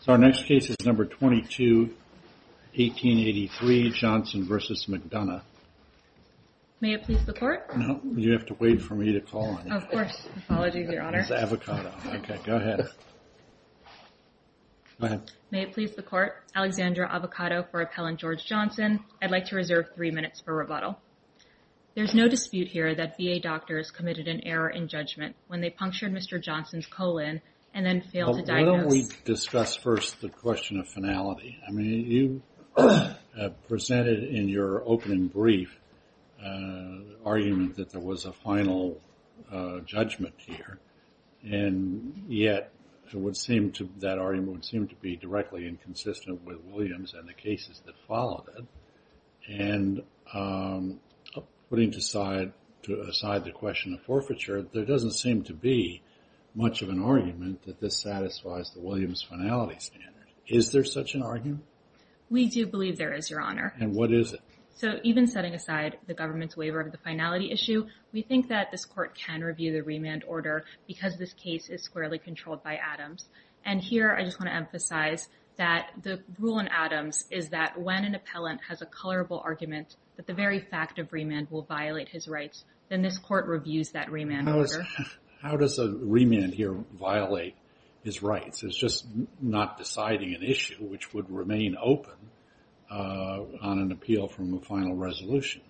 So our next case is number 22, 1883, Johnson v. McDonough. May it please the court? No, you have to wait for me to call on you. Of course. Apologies, your honor. It's avocado. Okay, go ahead. Go ahead. May it please the court? Alexandra Avocado for Appellant George Johnson. I'd like to reserve three minutes for rebuttal. There's no dispute here that VA doctors committed an error in judgment when they punctured Mr. Johnson's colon and then failed to diagnose. Why don't we discuss first the question of finality? I mean, you presented in your opening brief argument that there was a final judgment here, and yet that argument would seem to be directly inconsistent with Williams and the cases that followed it. And putting aside the question of forfeiture, there doesn't seem to be much of an argument that this satisfies the Williams finality standard. Is there such an argument? We do believe there is, your honor. And what is it? So even setting aside the government's waiver of the finality issue, we think that this court can review the remand order because this case is squarely controlled by Adams. And here, I just want to emphasize that the rule in Adams is that when an appellant has a colorable argument that the very fact of remand will violate his rights, then this court reviews that remand order. How does a remand here violate his rights? It's just not deciding an issue which would remain open on an appeal from a final resolution.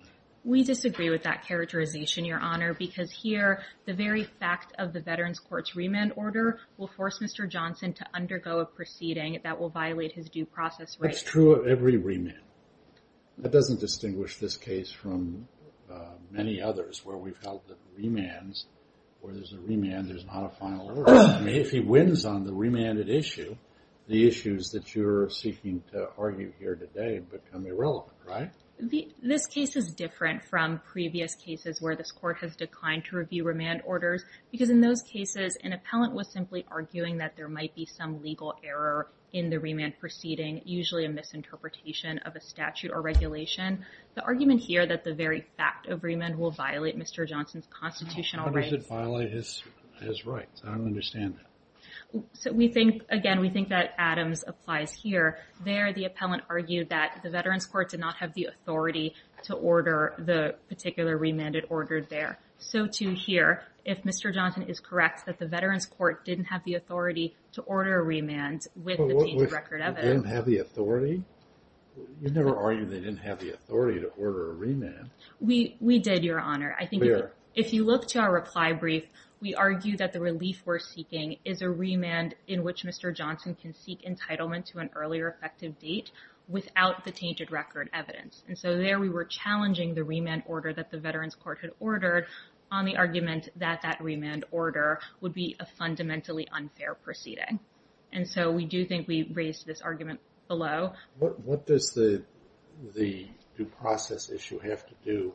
We disagree with that characterization, your honor, because here, the very fact of the Veterans Court's remand order will force Mr. Johnson to undergo a proceeding that will violate his due process rights. It's true of every remand. That doesn't distinguish this case from many others where we've held the remands where there's a remand, there's not a final order. I mean, if he wins on the remanded issue, the issues that you're seeking to argue here today become irrelevant, right? This case is different from previous cases where this court has declined to review remand orders because in those cases, an appellant was simply arguing that there might be some legal error in the remand proceeding, usually a misinterpretation of a statute or regulation. The argument here that the very fact of remand will violate Mr. Johnson's constitutional rights. How does it violate his rights? I don't understand that. So we think, again, we think that Adams applies here. There, the appellant argued that the Veterans Court did not have the authority to order the particular remand it ordered there. So too here, if Mr. Johnson is correct that the Veterans Court didn't have the authority to order a remand with the changed record of it. They didn't have the authority? You never argued they didn't have the authority to order a remand. We did, Your Honor. I think if you look to our reply brief, we argue that the relief we're seeking is a remand in which Mr. Johnson can seek entitlement to an earlier effective date without the tainted record evidence. And so there we were challenging the remand order that the Veterans Court had ordered on the argument that that remand order would be a fundamentally unfair proceeding. And so we do think we raised this argument below. What does the due process issue have to do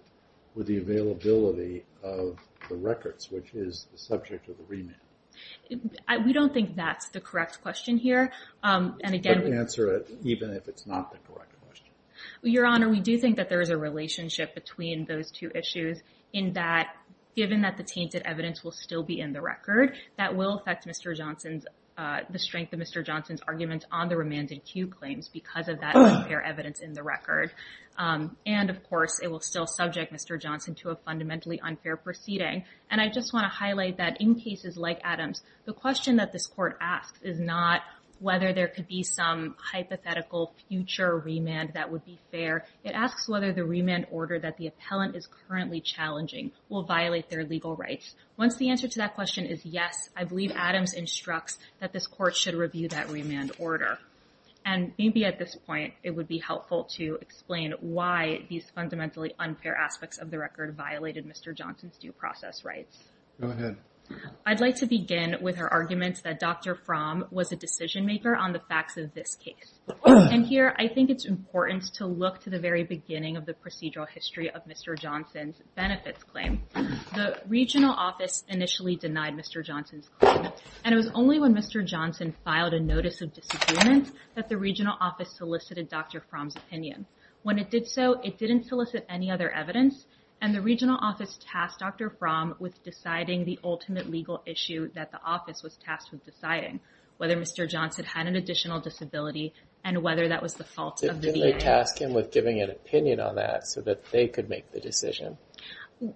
with the availability of the records, which is the subject of the remand? We don't think that's the correct question here. And again, we answer it even if it's not the correct question. Your Honor, we do think that there is a relationship between those two issues in that, given that the tainted evidence will still be in the record, that will affect Mr. Johnson's, the strength of Mr. Johnson's arguments on the remanded cue claims because of that unfair evidence in the record. And of course, it will still subject Mr. Johnson to a fundamentally unfair proceeding. And I just wanna highlight that in cases like Adam's, the question that this court asks is not whether there could be some hypothetical future remand that would be fair. It asks whether the remand order that the appellant is currently challenging will violate their legal rights. Once the answer to that question is yes, I believe Adams instructs that this court should review that remand order. And maybe at this point, it would be helpful to explain why these fundamentally unfair aspects of the record violated Mr. Johnson's due process rights. Go ahead. I'd like to begin with her arguments that Dr. Fromm was a decision maker on the facts of this case. And here, I think it's important to look to the very beginning of the procedural history of Mr. Johnson's benefits claim. The regional office initially denied Mr. Johnson's claim. And it was only when Mr. Johnson filed a notice of disappearance that the regional office solicited Dr. Fromm's opinion. When it did so, it didn't solicit any other evidence. And the regional office tasked Dr. Fromm with deciding the ultimate legal issue that the office was tasked with deciding, whether Mr. Johnson had an additional disability and whether that was the fault of the VA. Didn't they task him with giving an opinion on that so that they could make the decision?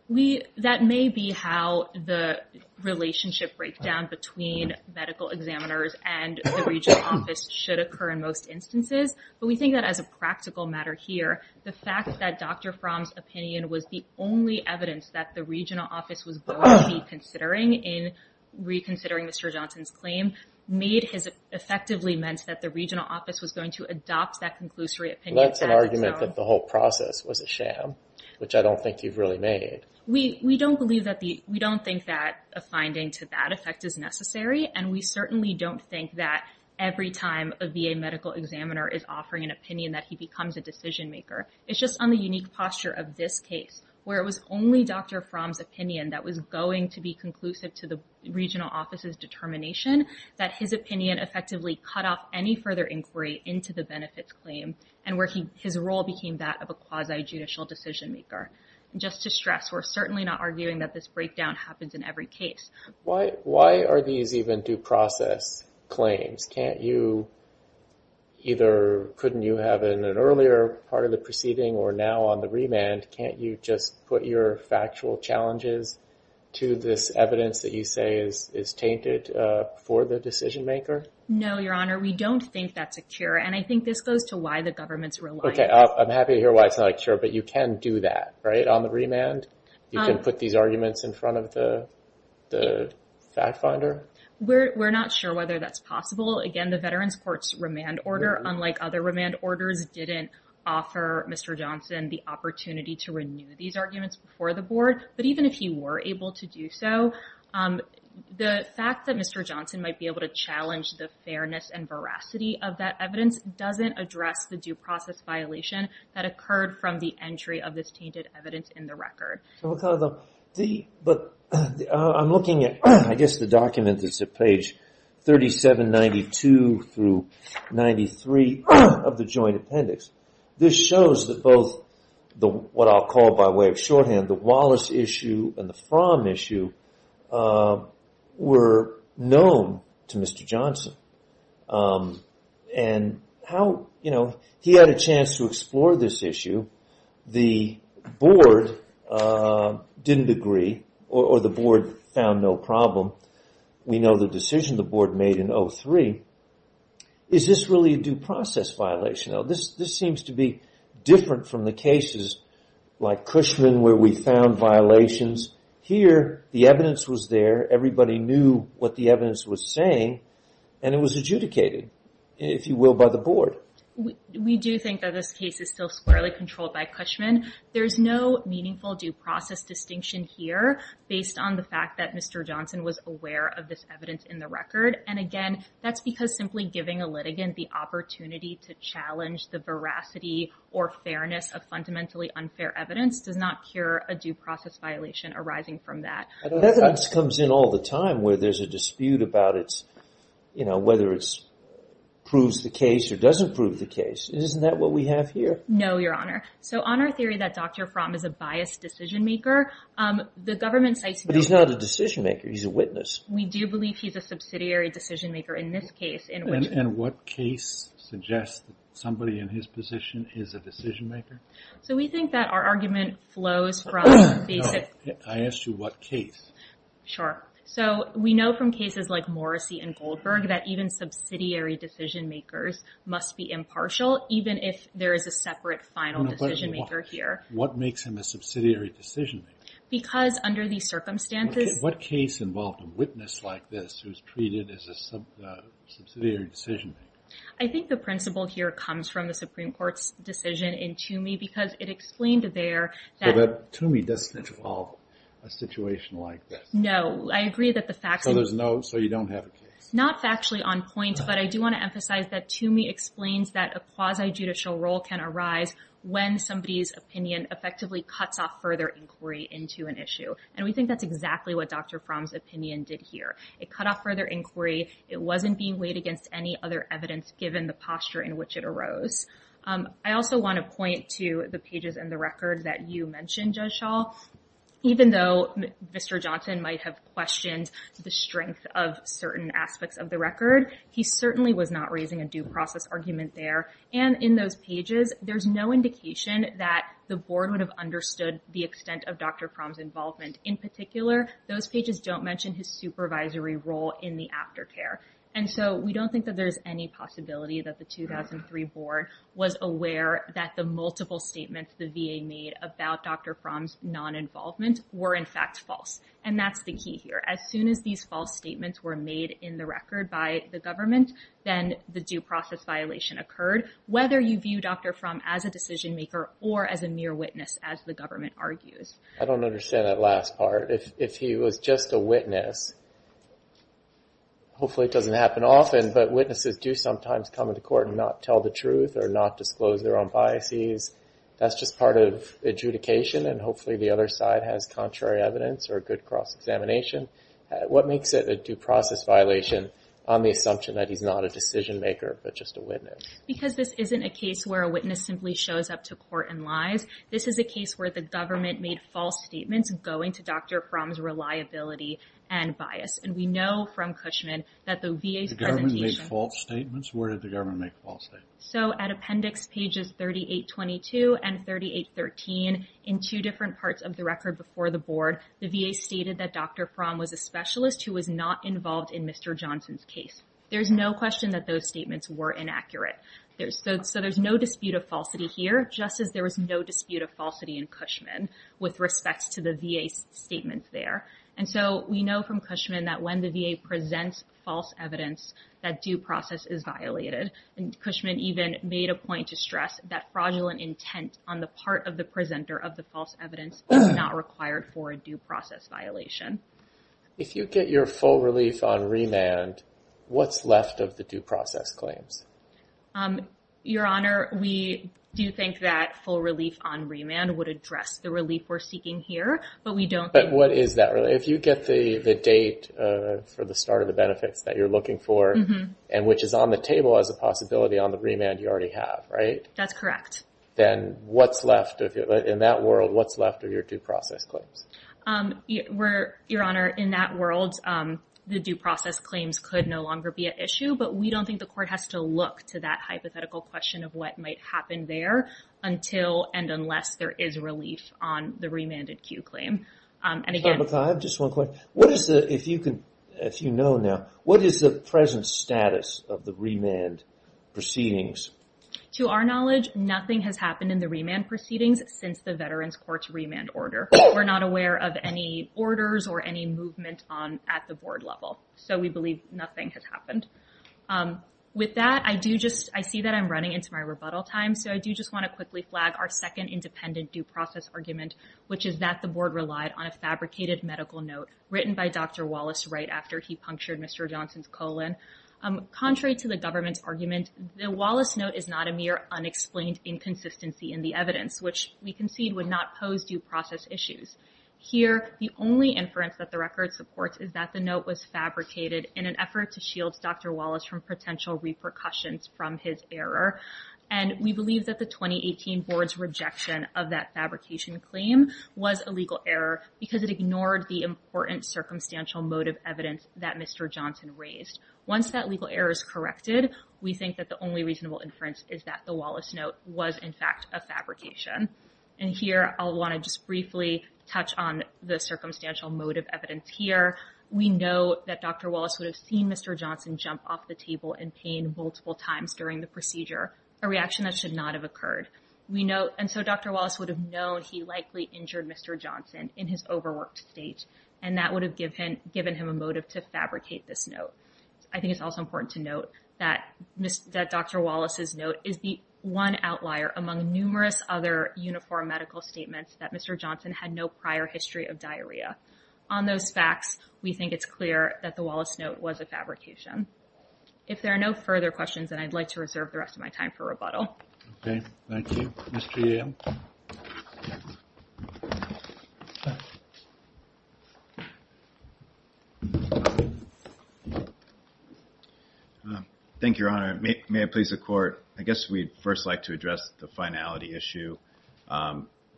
We, that may be how the relationship breakdown between medical examiners and the regional office should occur in most instances. But we think that as a practical matter here, the fact that Dr. Fromm's opinion was the only evidence that the regional office was going to be considering in reconsidering Mr. Johnson's claim, made his, effectively meant that the regional office was going to adopt that conclusory opinion. That's an argument that the whole process was a sham, which I don't think you've really made. We don't believe that the, we don't think that a finding to that effect is necessary. And we certainly don't think that every time a VA medical examiner is offering an opinion that he becomes a decision maker. It's just on the unique posture of this case where it was only Dr. Fromm's opinion that was going to be conclusive to the regional office's determination that his opinion effectively cut off any further inquiry into the benefits claim and where his role became that of a quasi-judicial decision maker. Just to stress, we're certainly not arguing that this breakdown happens in every case. Why are these even due process claims? Can't you either, couldn't you have it in an earlier part of the proceeding or now on the remand? Can't you just put your factual challenges to this evidence that you say is tainted for the decision maker? No, Your Honor, we don't think that's a cure. And I think this goes to why the government's relying. I'm happy to hear why it's not a cure, but you can do that, right? On the remand, you can put these arguments in front of the fact finder. We're not sure whether that's possible. Again, the Veterans Court's remand order, unlike other remand orders, didn't offer Mr. Johnson the opportunity to renew these arguments before the board. But even if he were able to do so, the fact that Mr. Johnson might be able to challenge the fairness and veracity of that evidence doesn't address the due process violation that occurred from the entry of this tainted evidence in the record. But I'm looking at, I guess the document that's at page 3792 through 93 of the joint appendix. This shows that both the what I'll call by way of shorthand, the Wallace issue and the Fromm issue were known to Mr. Johnson. And how, you know, he had a chance to explore this issue. The board didn't agree or the board found no problem. We know the decision the board made in 03. Is this really a due process violation? Now, this seems to be different from the cases like Cushman where we found violations. Here, the evidence was there. Everybody knew what the evidence was saying. And it was adjudicated, if you will, by the board. We do think that this case is still squarely controlled by Cushman. There's no meaningful due process distinction here based on the fact that Mr. Johnson was aware of this evidence in the record. And again, that's because simply giving a litigant the opportunity to challenge the veracity or fairness of fundamentally unfair evidence does not cure a due process violation arising from that. That comes in all the time where there's a dispute about whether it proves the case or doesn't prove the case. Isn't that what we have here? No, Your Honor. So on our theory that Dr. Fromm is a biased decision maker, the government cites... But he's not a decision maker. He's a witness. We do believe he's a subsidiary decision maker in this case in which... And what case suggests somebody in his position is a decision maker? So we think that our argument flows from basic... I asked you what case. Sure. So we know from cases like Morrissey and Goldberg that even subsidiary decision makers must be impartial, even if there is a separate final decision maker here. What makes him a subsidiary decision maker? Because under these circumstances... What case involved a witness like this who's treated as a subsidiary decision maker? I think the principle here comes from the Supreme Court's decision in Toomey because it explained there... So Toomey doesn't involve a situation like this? No. I agree that the facts... So there's no... So you don't have a case? Not factually on point, but I do want to emphasize that Toomey explains that a quasi-judicial role can arise when somebody's opinion effectively cuts off further inquiry into an issue. And we think that's exactly what Dr. Fromm's opinion did here. It cut off further inquiry. It wasn't being weighed against any other evidence, given the posture in which it arose. I also want to point to the pages in the record that you mentioned, Judge Schall. Even though Mr. Johnson might have questioned the strength of certain aspects of the record, he certainly was not raising a due process argument there. And in those pages, there's no indication that the board would have understood the extent of Dr. Fromm's involvement. In particular, those pages don't mention his supervisory role in the aftercare. And so we don't think that there's any possibility that the 2003 board was aware that the multiple statements the VA made about Dr. Fromm's non-involvement were in fact false. And that's the key here. As soon as these false statements were made in the record by the government, then the due process violation occurred, whether you view Dr. Fromm as a decision maker or as a mere witness, as the government argues. I don't understand that last part. If he was just a witness, hopefully it doesn't happen often, but witnesses do sometimes come into court and not tell the truth or not disclose their own biases. That's just part of adjudication and hopefully the other side has contrary evidence or a good cross-examination. What makes it a due process violation on the assumption that he's not a decision maker, but just a witness? Because this isn't a case where a witness simply shows up to court and lies. This is a case where the government made false statements going to Dr. Fromm's reliability and bias. And we know from Cushman that the VA's presentation- The government made false statements? Where did the government make false statements? So at appendix pages 3822 and 3813 in two different parts of the record before the board, the VA stated that Dr. Fromm was a specialist who was not involved in Mr. Johnson's case. There's no question that those statements were inaccurate. So there's no dispute of falsity here, just as there was no dispute of falsity in Cushman with respect to the VA's statements there. And so we know from Cushman that when the VA presents false evidence, that due process is violated. And Cushman even made a point to stress that fraudulent intent on the part of the presenter of the false evidence is not required for a due process violation. If you get your full relief on remand, what's left of the due process claims? Your Honor, we do think that full relief on remand would address the relief we're seeking here, but we don't think- But what is that relief? If you get the date for the start of the benefits that you're looking for, and which is on the table as a possibility on the remand you already have, right? That's correct. Then what's left of it? In that world, what's left of your due process claims? Your Honor, in that world, the due process claims could no longer be an issue, but we don't think the court has to look to that hypothetical question of what might happen there until and unless there is relief on the remanded Q claim. And again- Just one question. What is the, if you know now, what is the present status of the remand proceedings? To our knowledge, nothing has happened in the remand proceedings since the veterans court's remand order. We're not aware of any orders or any movement on at the board level. So we believe nothing has happened. With that, I do just, I see that I'm running into my rebuttal time. So I do just want to quickly flag our second independent due process argument, which is that the board relied on a fabricated medical note written by Dr. Wallace right after he punctured Mr. Johnson's colon. Contrary to the government's argument, the Wallace note is not a mere unexplained inconsistency in the evidence, which we concede would not pose due process issues. Here, the only inference that the record supports is that the note was fabricated in an effort to shield Dr. Wallace from potential repercussions from his error. And we believe that the 2018 board's rejection of that fabrication claim was a legal error because it ignored the important circumstantial motive evidence that Mr. Johnson raised. Once that legal error is corrected, we think that the only reasonable inference is that the Wallace note was in fact a fabrication. And here, I'll want to just briefly touch on the circumstantial motive evidence here. We know that Dr. Wallace would have seen Mr. Johnson jump off the table in pain multiple times during the procedure, a reaction that should not have occurred. We know, and so Dr. Wallace would have known he likely injured Mr. Johnson and that would have given him a motive to fabricate this note. I think it's also important to note that Dr. Wallace's note is the one outlier among numerous other uniform medical statements that Mr. Johnson had no prior history of diarrhea. On those facts, we think it's clear that the Wallace note was a fabrication. If there are no further questions, then I'd like to reserve the rest of my time for rebuttal. Okay, thank you. Mr. Yale. Thank you, Your Honor. May I please the court? I guess we'd first like to address the finality issue.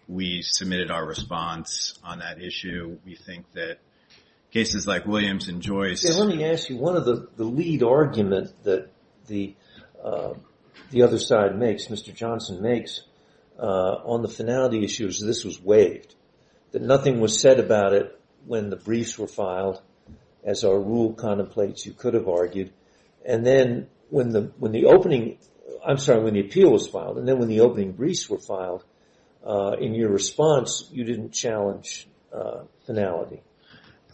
We submitted our response on that issue. We think that cases like Williams and Joyce... Say, let me ask you, one of the lead arguments that the other side makes, Mr. Johnson makes, on the finality issues, this was waived. That nothing was said about it when the briefs were filed. As our rule contemplates, you could have argued. And then when the opening... I'm sorry, when the appeal was filed, and then when the opening briefs were filed in your response, you didn't challenge finality.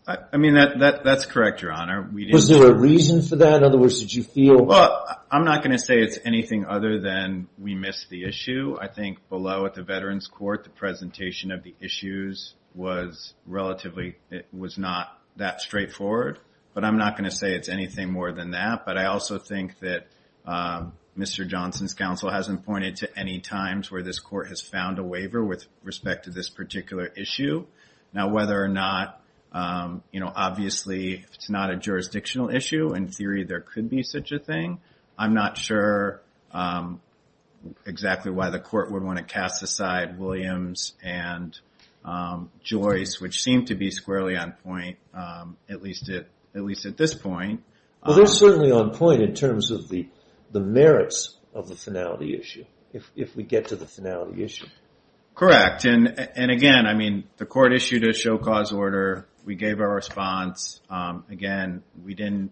I mean, that's correct, Your Honor. Was there a reason for that? Well, I'm not going to say it's anything other than we missed the issue. I think below at the Veterans Court, the presentation of the issues was relatively... It was not that straightforward. But I'm not going to say it's anything more than that. But I also think that Mr. Johnson's counsel hasn't pointed to any times where this court has found a waiver with respect to this particular issue. Now, whether or not... Obviously, if it's not a jurisdictional issue, in theory, there could be such a thing. I'm not sure exactly why the court would want to cast aside Williams and Joyce, which seem to be squarely on point, at least at this point. Well, they're certainly on point in terms of the merits of the finality issue, if we get to the finality issue. Correct. And again, I mean, the court issued a show-cause order. We gave our response. Again, we didn't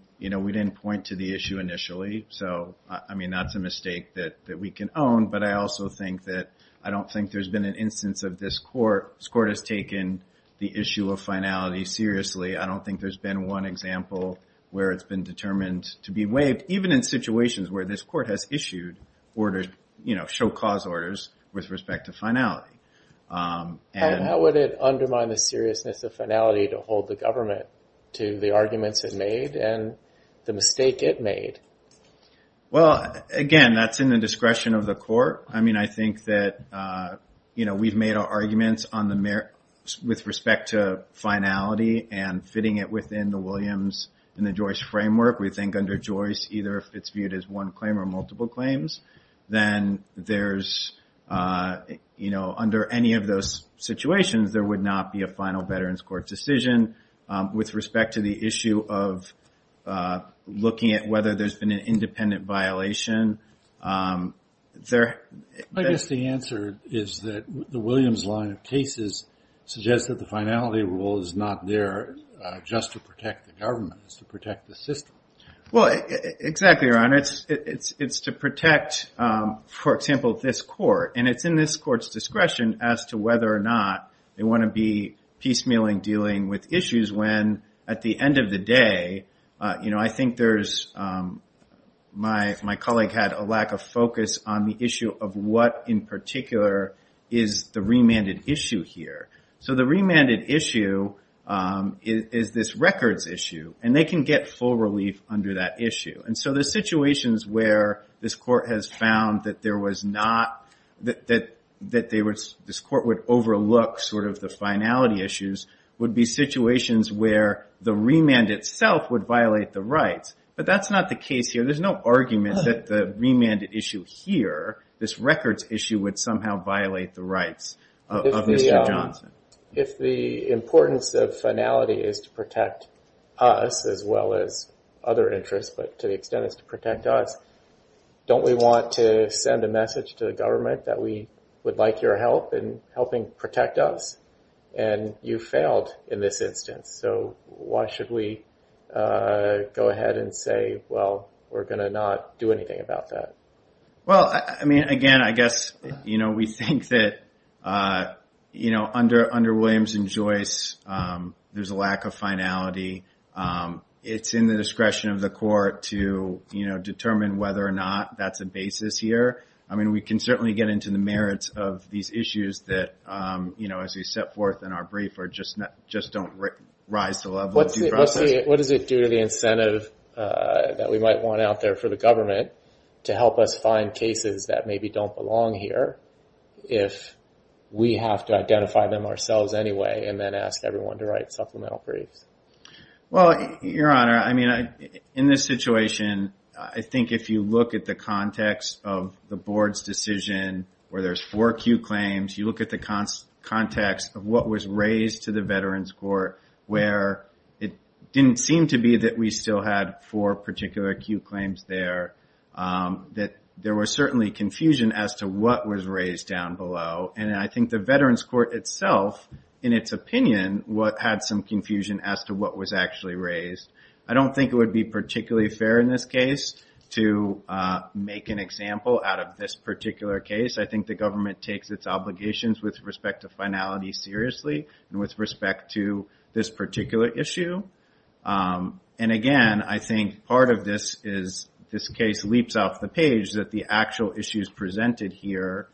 point to the issue initially. So, I mean, that's a mistake that we can own. But I also think that I don't think there's been an instance of this court... This court has taken the issue of finality seriously. I don't think there's been one example where it's been determined to be waived, even in situations where this court has issued orders, you know, show-cause orders with respect to finality. And how would it undermine the seriousness of finality to hold the government to the arguments it made and the mistake it made? Well, again, that's in the discretion of the court. I mean, I think that, you know, we've made our arguments on the merits with respect to finality and fitting it within the Williams and the Joyce framework. We think under Joyce, either if it's viewed as one claim or multiple claims, then there's, you know, under any of those situations, there would not be a final Veterans Court decision with respect to the issue of looking at whether there's been an independent violation. I guess the answer is that the Williams line of cases suggests that the finality rule is not there just to protect the government. It's to protect the system. Well, exactly, Your Honor. It's to protect, for example, this court. And it's in this court's discretion as to whether or not they want to be piecemealing, dealing with issues when at the end of the day, you know, I think there's, my colleague had a lack of focus on the issue of what in particular is the remanded issue here. So the remanded issue is this records issue and they can get full relief under that issue. And so the situations where this court has found that there was not, that this court would overlook sort of the finality issues, would be situations where the remand itself would violate the rights. But that's not the case here. There's no argument that the remanded issue here, this records issue, would somehow violate the rights of Mr. Johnson. If the importance of finality is to protect us as well as other interests, but to the extent it's to protect us, don't we want to send a message to the government that we would like your help in helping protect us? And you failed in this instance. So why should we go ahead and say, well, we're going to not do anything about that? Well, I mean, again, I guess, you know, we think that, you know, under Williams and Joyce, there's a lack of finality. It's in the discretion of the court to, you know, determine whether or not that's a basis here. I mean, we can certainly get into the merits of these issues that, you know, as we set forth in our brief, or just not just don't rise to the level of due process. What does it do to the incentive that we might want out there for the government to help us find cases that maybe don't belong here if we have to identify them ourselves anyway, and then ask everyone to write supplemental briefs? Well, your honor, I mean, in this situation, I think if you look at the context of the board's decision, where there's four Q claims, you look at the context of what was raised to the Veterans Court, where it didn't seem to be that we still had four particular Q claims there, that there was certainly confusion as to what was raised down below. And I think the Veterans Court itself, in its opinion, what had some confusion as to what was actually raised. I don't think it would be particularly fair in this case to make an example out of this particular case. I think the government takes its obligations with respect to finality seriously, and with respect to this particular issue. And again, I think part of this is, this case leaps off the page that the actual issues presented here,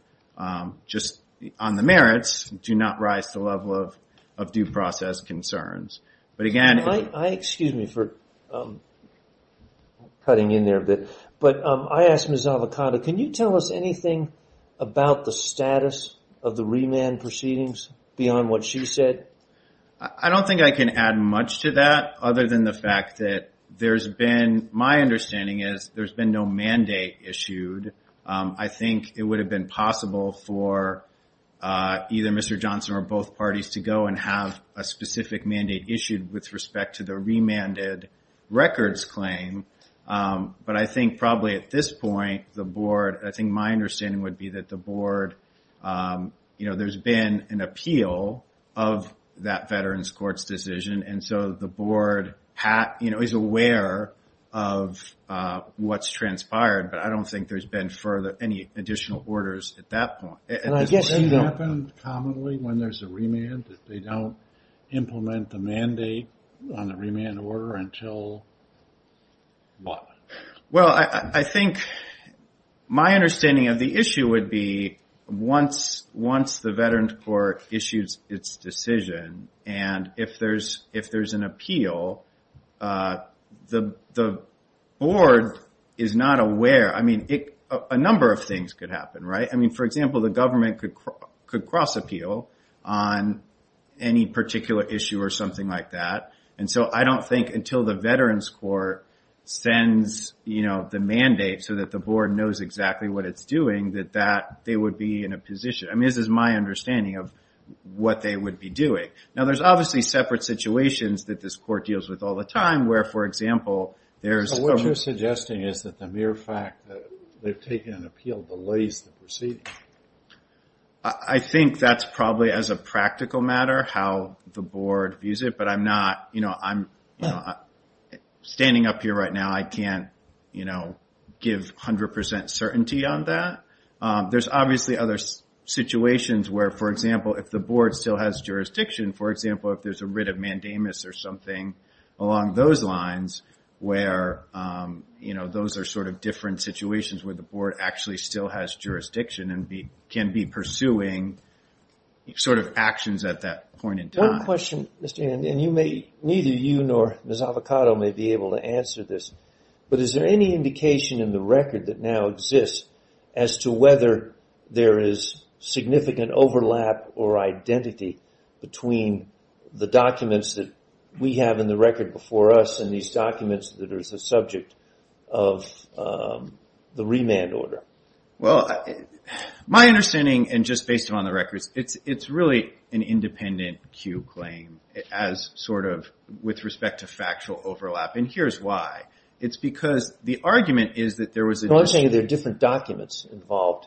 just on the merits, do not rise to the level of due process concerns. But again, I... Excuse me for cutting in there a bit. But I asked Ms. Avocado, can you tell us anything about the status of the remand proceedings beyond what she said? I don't think I can add much to that, other than the fact that there's been, my understanding is, there's been no mandate issued. I think it would have been possible for either Mr. Johnson or both parties to go and have a specific mandate issued with respect to the remanded records claim. But I think probably at this point, the board, I think my understanding would be that the board, there's been an appeal of that veteran's court's decision. And so the board is aware of what's transpired, but I don't think there's been further, any additional orders at that point. And I guess it happened commonly when there's a remand, that they don't implement the mandate on the remand order until what? Well, I think my understanding of the issue would be once the veteran's court issues its decision, and if there's an appeal, the board is not aware. I mean, a number of things could happen, right? I mean, for example, the government could cross appeal on any particular issue or something like that. And so I don't think until the veteran's court sends the mandate so that the board knows exactly what it's doing, that they would be in a position. I mean, this is my understanding of what they would be doing. Now, there's obviously separate situations that this court deals with all the time, where, for example, there's- So what you're suggesting is that the mere fact that they've taken an appeal delays the proceeding? I think that's probably as a practical matter, how the board views it. But I'm not, standing up here right now, I can't give 100% certainty on that. There's obviously other situations where, for example, if the board still has jurisdiction, for example, if there's a writ of mandamus or something along those lines, where those are sort of different situations where the board actually still has jurisdiction and can be pursuing sort of actions at that point in time. One question, Mr. Ian, and you may, neither you nor Ms. Avocado may be able to answer this. But is there any indication in the record that now exists as to whether there is significant overlap or identity between the documents that we have in the record before us and these documents that are the subject of the remand order? Well, my understanding, and just based on the records, it's really an independent Q claim as sort of with respect to factual overlap. And here's why. It's because the argument is that there was... No, I'm saying there are different documents involved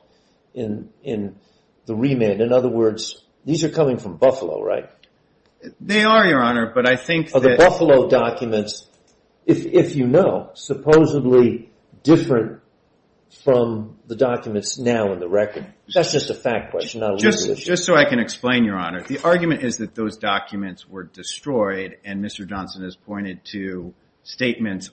in the remand. In other words, these are coming from Buffalo, right? They are, Your Honor, but I think that... Are the Buffalo documents, if you know, supposedly different from the documents now in the record? That's just a fact question, not a legal issue. Just so I can explain, Your Honor, the argument is that those documents were destroyed and Mr. Johnson has pointed to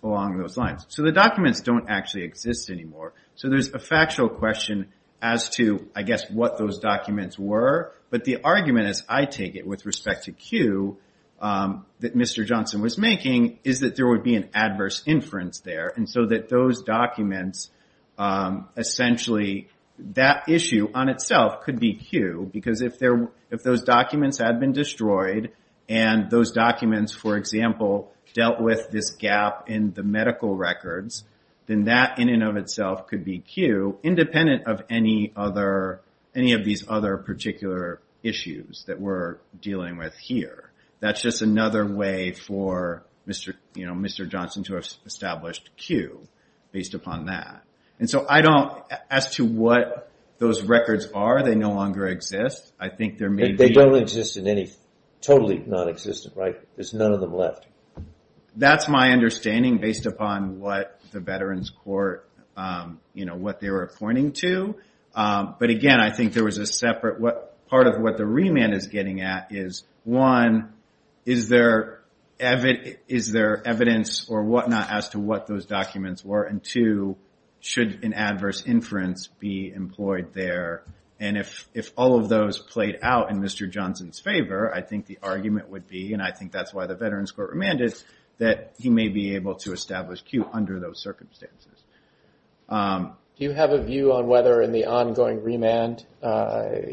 along those lines. So the documents don't actually exist anymore. So there's a factual question as to, I guess, what those documents were. But the argument, as I take it, with respect to Q that Mr. Johnson was making is that there would be an adverse inference there. And so that those documents, essentially, that issue on itself could be Q because if those documents had been destroyed and those documents, for example, dealt with this gap in the medical records, then that in and of itself could be Q, independent of any other, any of these other particular issues that we're dealing with here. That's just another way for Mr. Johnson to have established Q based upon that. And so I don't... As to what those records are, they no longer exist. I think there may be... They don't exist in any... Totally non-existent, right? There's none of them left. That's my understanding based upon what the Veterans Court... What they were pointing to. But again, I think there was a separate... What part of what the remand is getting at is, one, is there evidence or whatnot as to what those documents were? And two, should an adverse inference be employed there? And if all of those played out in Mr. Johnson's favor, I think the argument would be, and I think that's why the Veterans Court remanded, that he may be able to establish Q under those circumstances. Do you have a view on whether in the ongoing remand,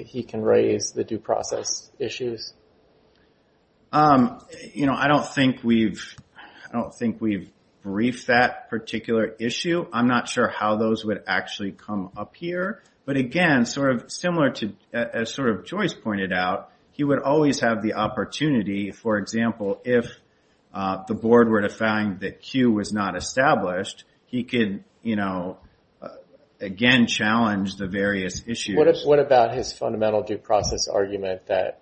he can raise the due process issues? You know, I don't think we've... I don't think we've briefed that particular issue. I'm not sure how those would actually come up here. But again, sort of similar to... As sort of Joyce pointed out, he would always have the opportunity, for example, if the board were to find that Q was not established, he could, you know, again, challenge the various issues. What about his fundamental due process argument that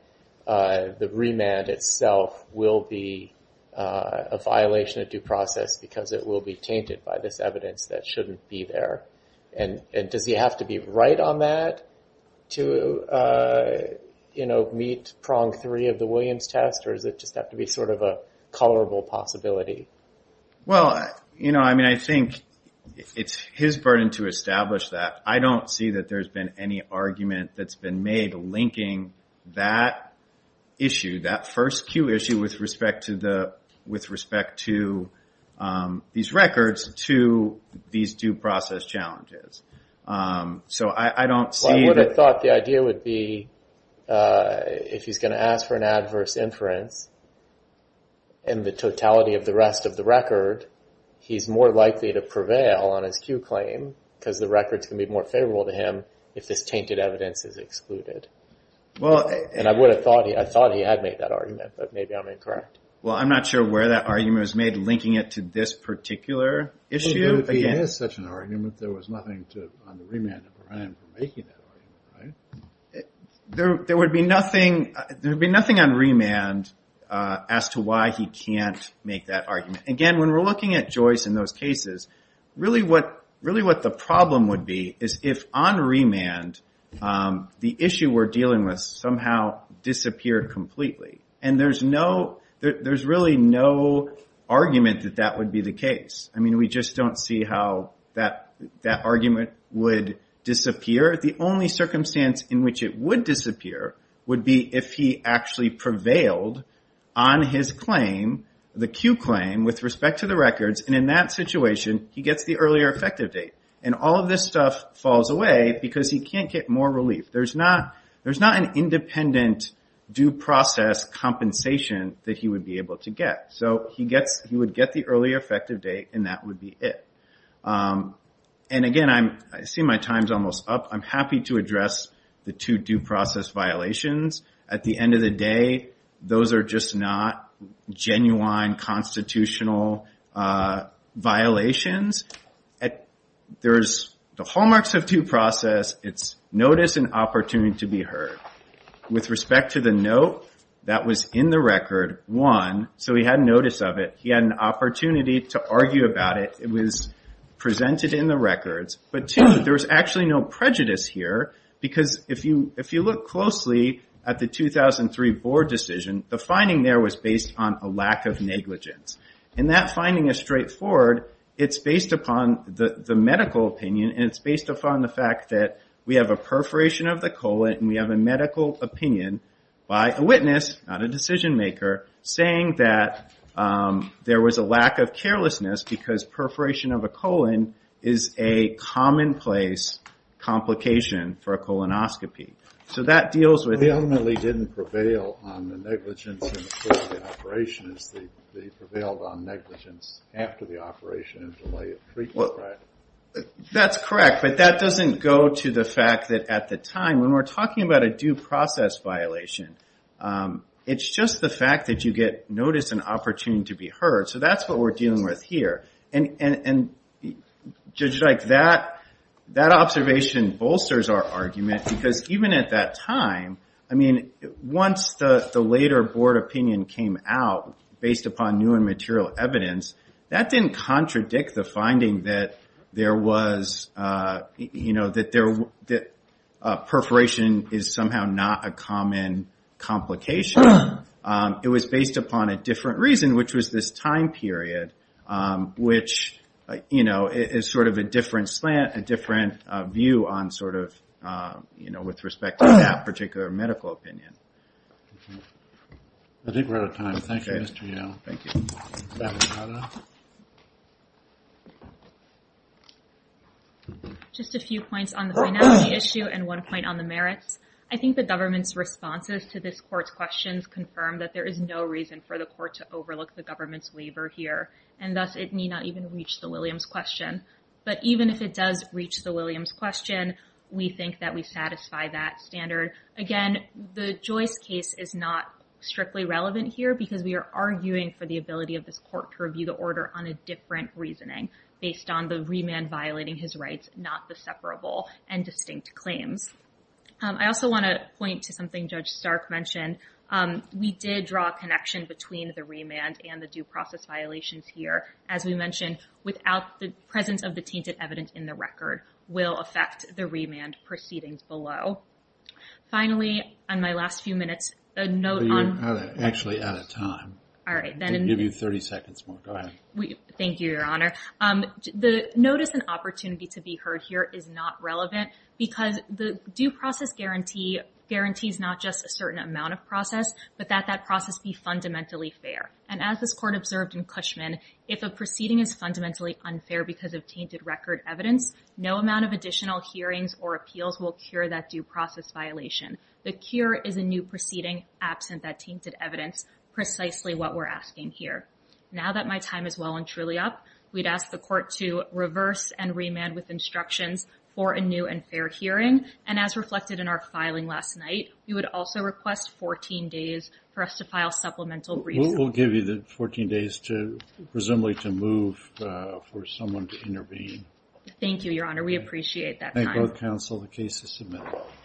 the remand itself will be a violation of due process because it will be tainted by this evidence that shouldn't be there? And does he have to be right on that to, you know, meet prong three of the Williams test or does it just have to be sort of a colorable possibility? Well, you know, I mean, I think it's his burden to establish that. I don't see that there's been any argument that's been made linking that issue, that first Q issue with respect to these records to these due process challenges. So I don't see... I would have thought the idea would be if he's going to ask for an adverse inference and the totality of the rest of the record, he's more likely to prevail on his Q claim because the records can be more favorable to him if this tainted evidence is excluded. Well... And I would have thought... I thought he had made that argument, but maybe I'm incorrect. Well, I'm not sure where that argument was made linking it to this particular issue. It is such an argument. There was nothing to... on the remand of Orion for making that argument, right? There would be nothing on remand as to why he can't make that argument. Again, when we're looking at Joyce in those cases, really what the problem would be is if on remand the issue we're dealing with somehow disappeared completely and there's really no argument that that would be the case. I mean, we just don't see how that argument would disappear. The only circumstance in which it would disappear would be if he actually prevailed on his claim, the Q claim, with respect to the records. And in that situation, he gets the earlier effective date. And all of this stuff falls away because he can't get more relief. There's not an independent due process compensation that he would be able to get. So he would get the earlier effective date and that would be it. And again, I see my time's almost up. I'm happy to address the two due process violations. At the end of the day, those are just not genuine constitutional violations. The hallmarks of due process, it's notice and opportunity to be heard. With respect to the note that was in the record, one, so he had notice of it. He had an opportunity to argue about it. It was presented in the records. But two, there was actually no prejudice here. Because if you look closely at the 2003 board decision, the finding there was based on a lack of negligence. And that finding is straightforward. It's based upon the medical opinion and it's based upon the fact that we have a perforation of the colon and we have a medical opinion by a witness, not a decision maker, saying that there was a lack of carelessness because perforation of a colon is a commonplace complication for a colonoscopy. So that deals with- We ultimately didn't prevail on the negligence in the course of the operation. It prevailed on negligence after the operation and delay of treatment, right? Well, that's correct. But that doesn't go to the fact that at the time, when we're talking about a due process violation, it's just the fact that you get notice and opportunity to be heard. So that's what we're dealing with here. And Judge Dyke, that observation bolsters our argument because even at that time, once the later board opinion came out based upon new and material evidence, that didn't contradict the finding that perforation is somehow not a common complication. It was based upon a different reason, which was this time period which is sort of a different slant, a different view on sort of, with respect to that particular medical opinion. I think we're out of time. Thank you, Mr. Young. Thank you. Just a few points on the finality issue and one point on the merits. I think the government's responses to this court's questions confirm that there is no reason for the court to overlook the government's labor here. And thus, it may not even reach the Williams question. But even if it does reach the Williams question, we think that we satisfy that standard. Again, the Joyce case is not strictly relevant here because we are arguing for the ability of this court to review the order on a different reasoning based on the remand violating his rights, not the separable and distinct claims. I also want to point to something Judge Stark mentioned. We did draw a connection between the remand and the due process violations here. As we mentioned, without the presence of the tainted evidence in the record will affect the remand proceedings below. Finally, on my last few minutes, a note on... You're actually out of time. All right. I'll give you 30 seconds more. Go ahead. Thank you, Your Honor. The notice and opportunity to be heard here is not relevant because the due process guarantee guarantees not just a certain amount of process, but that that process be fundamentally fair. As this court observed in Cushman, if a proceeding is fundamentally unfair because of tainted record evidence, no amount of additional hearings or appeals will cure that due process violation. The cure is a new proceeding absent that tainted evidence, precisely what we're asking here. Now that my time is well and truly up, we'd ask the court to reverse and remand with instructions for a new and fair hearing. And as reflected in our filing last night, we would also request 14 days for us to file supplemental... We'll give you the 14 days to presumably to move for someone to intervene. Thank you, Your Honor. We appreciate that time. Thank both counsel. The case is submitted.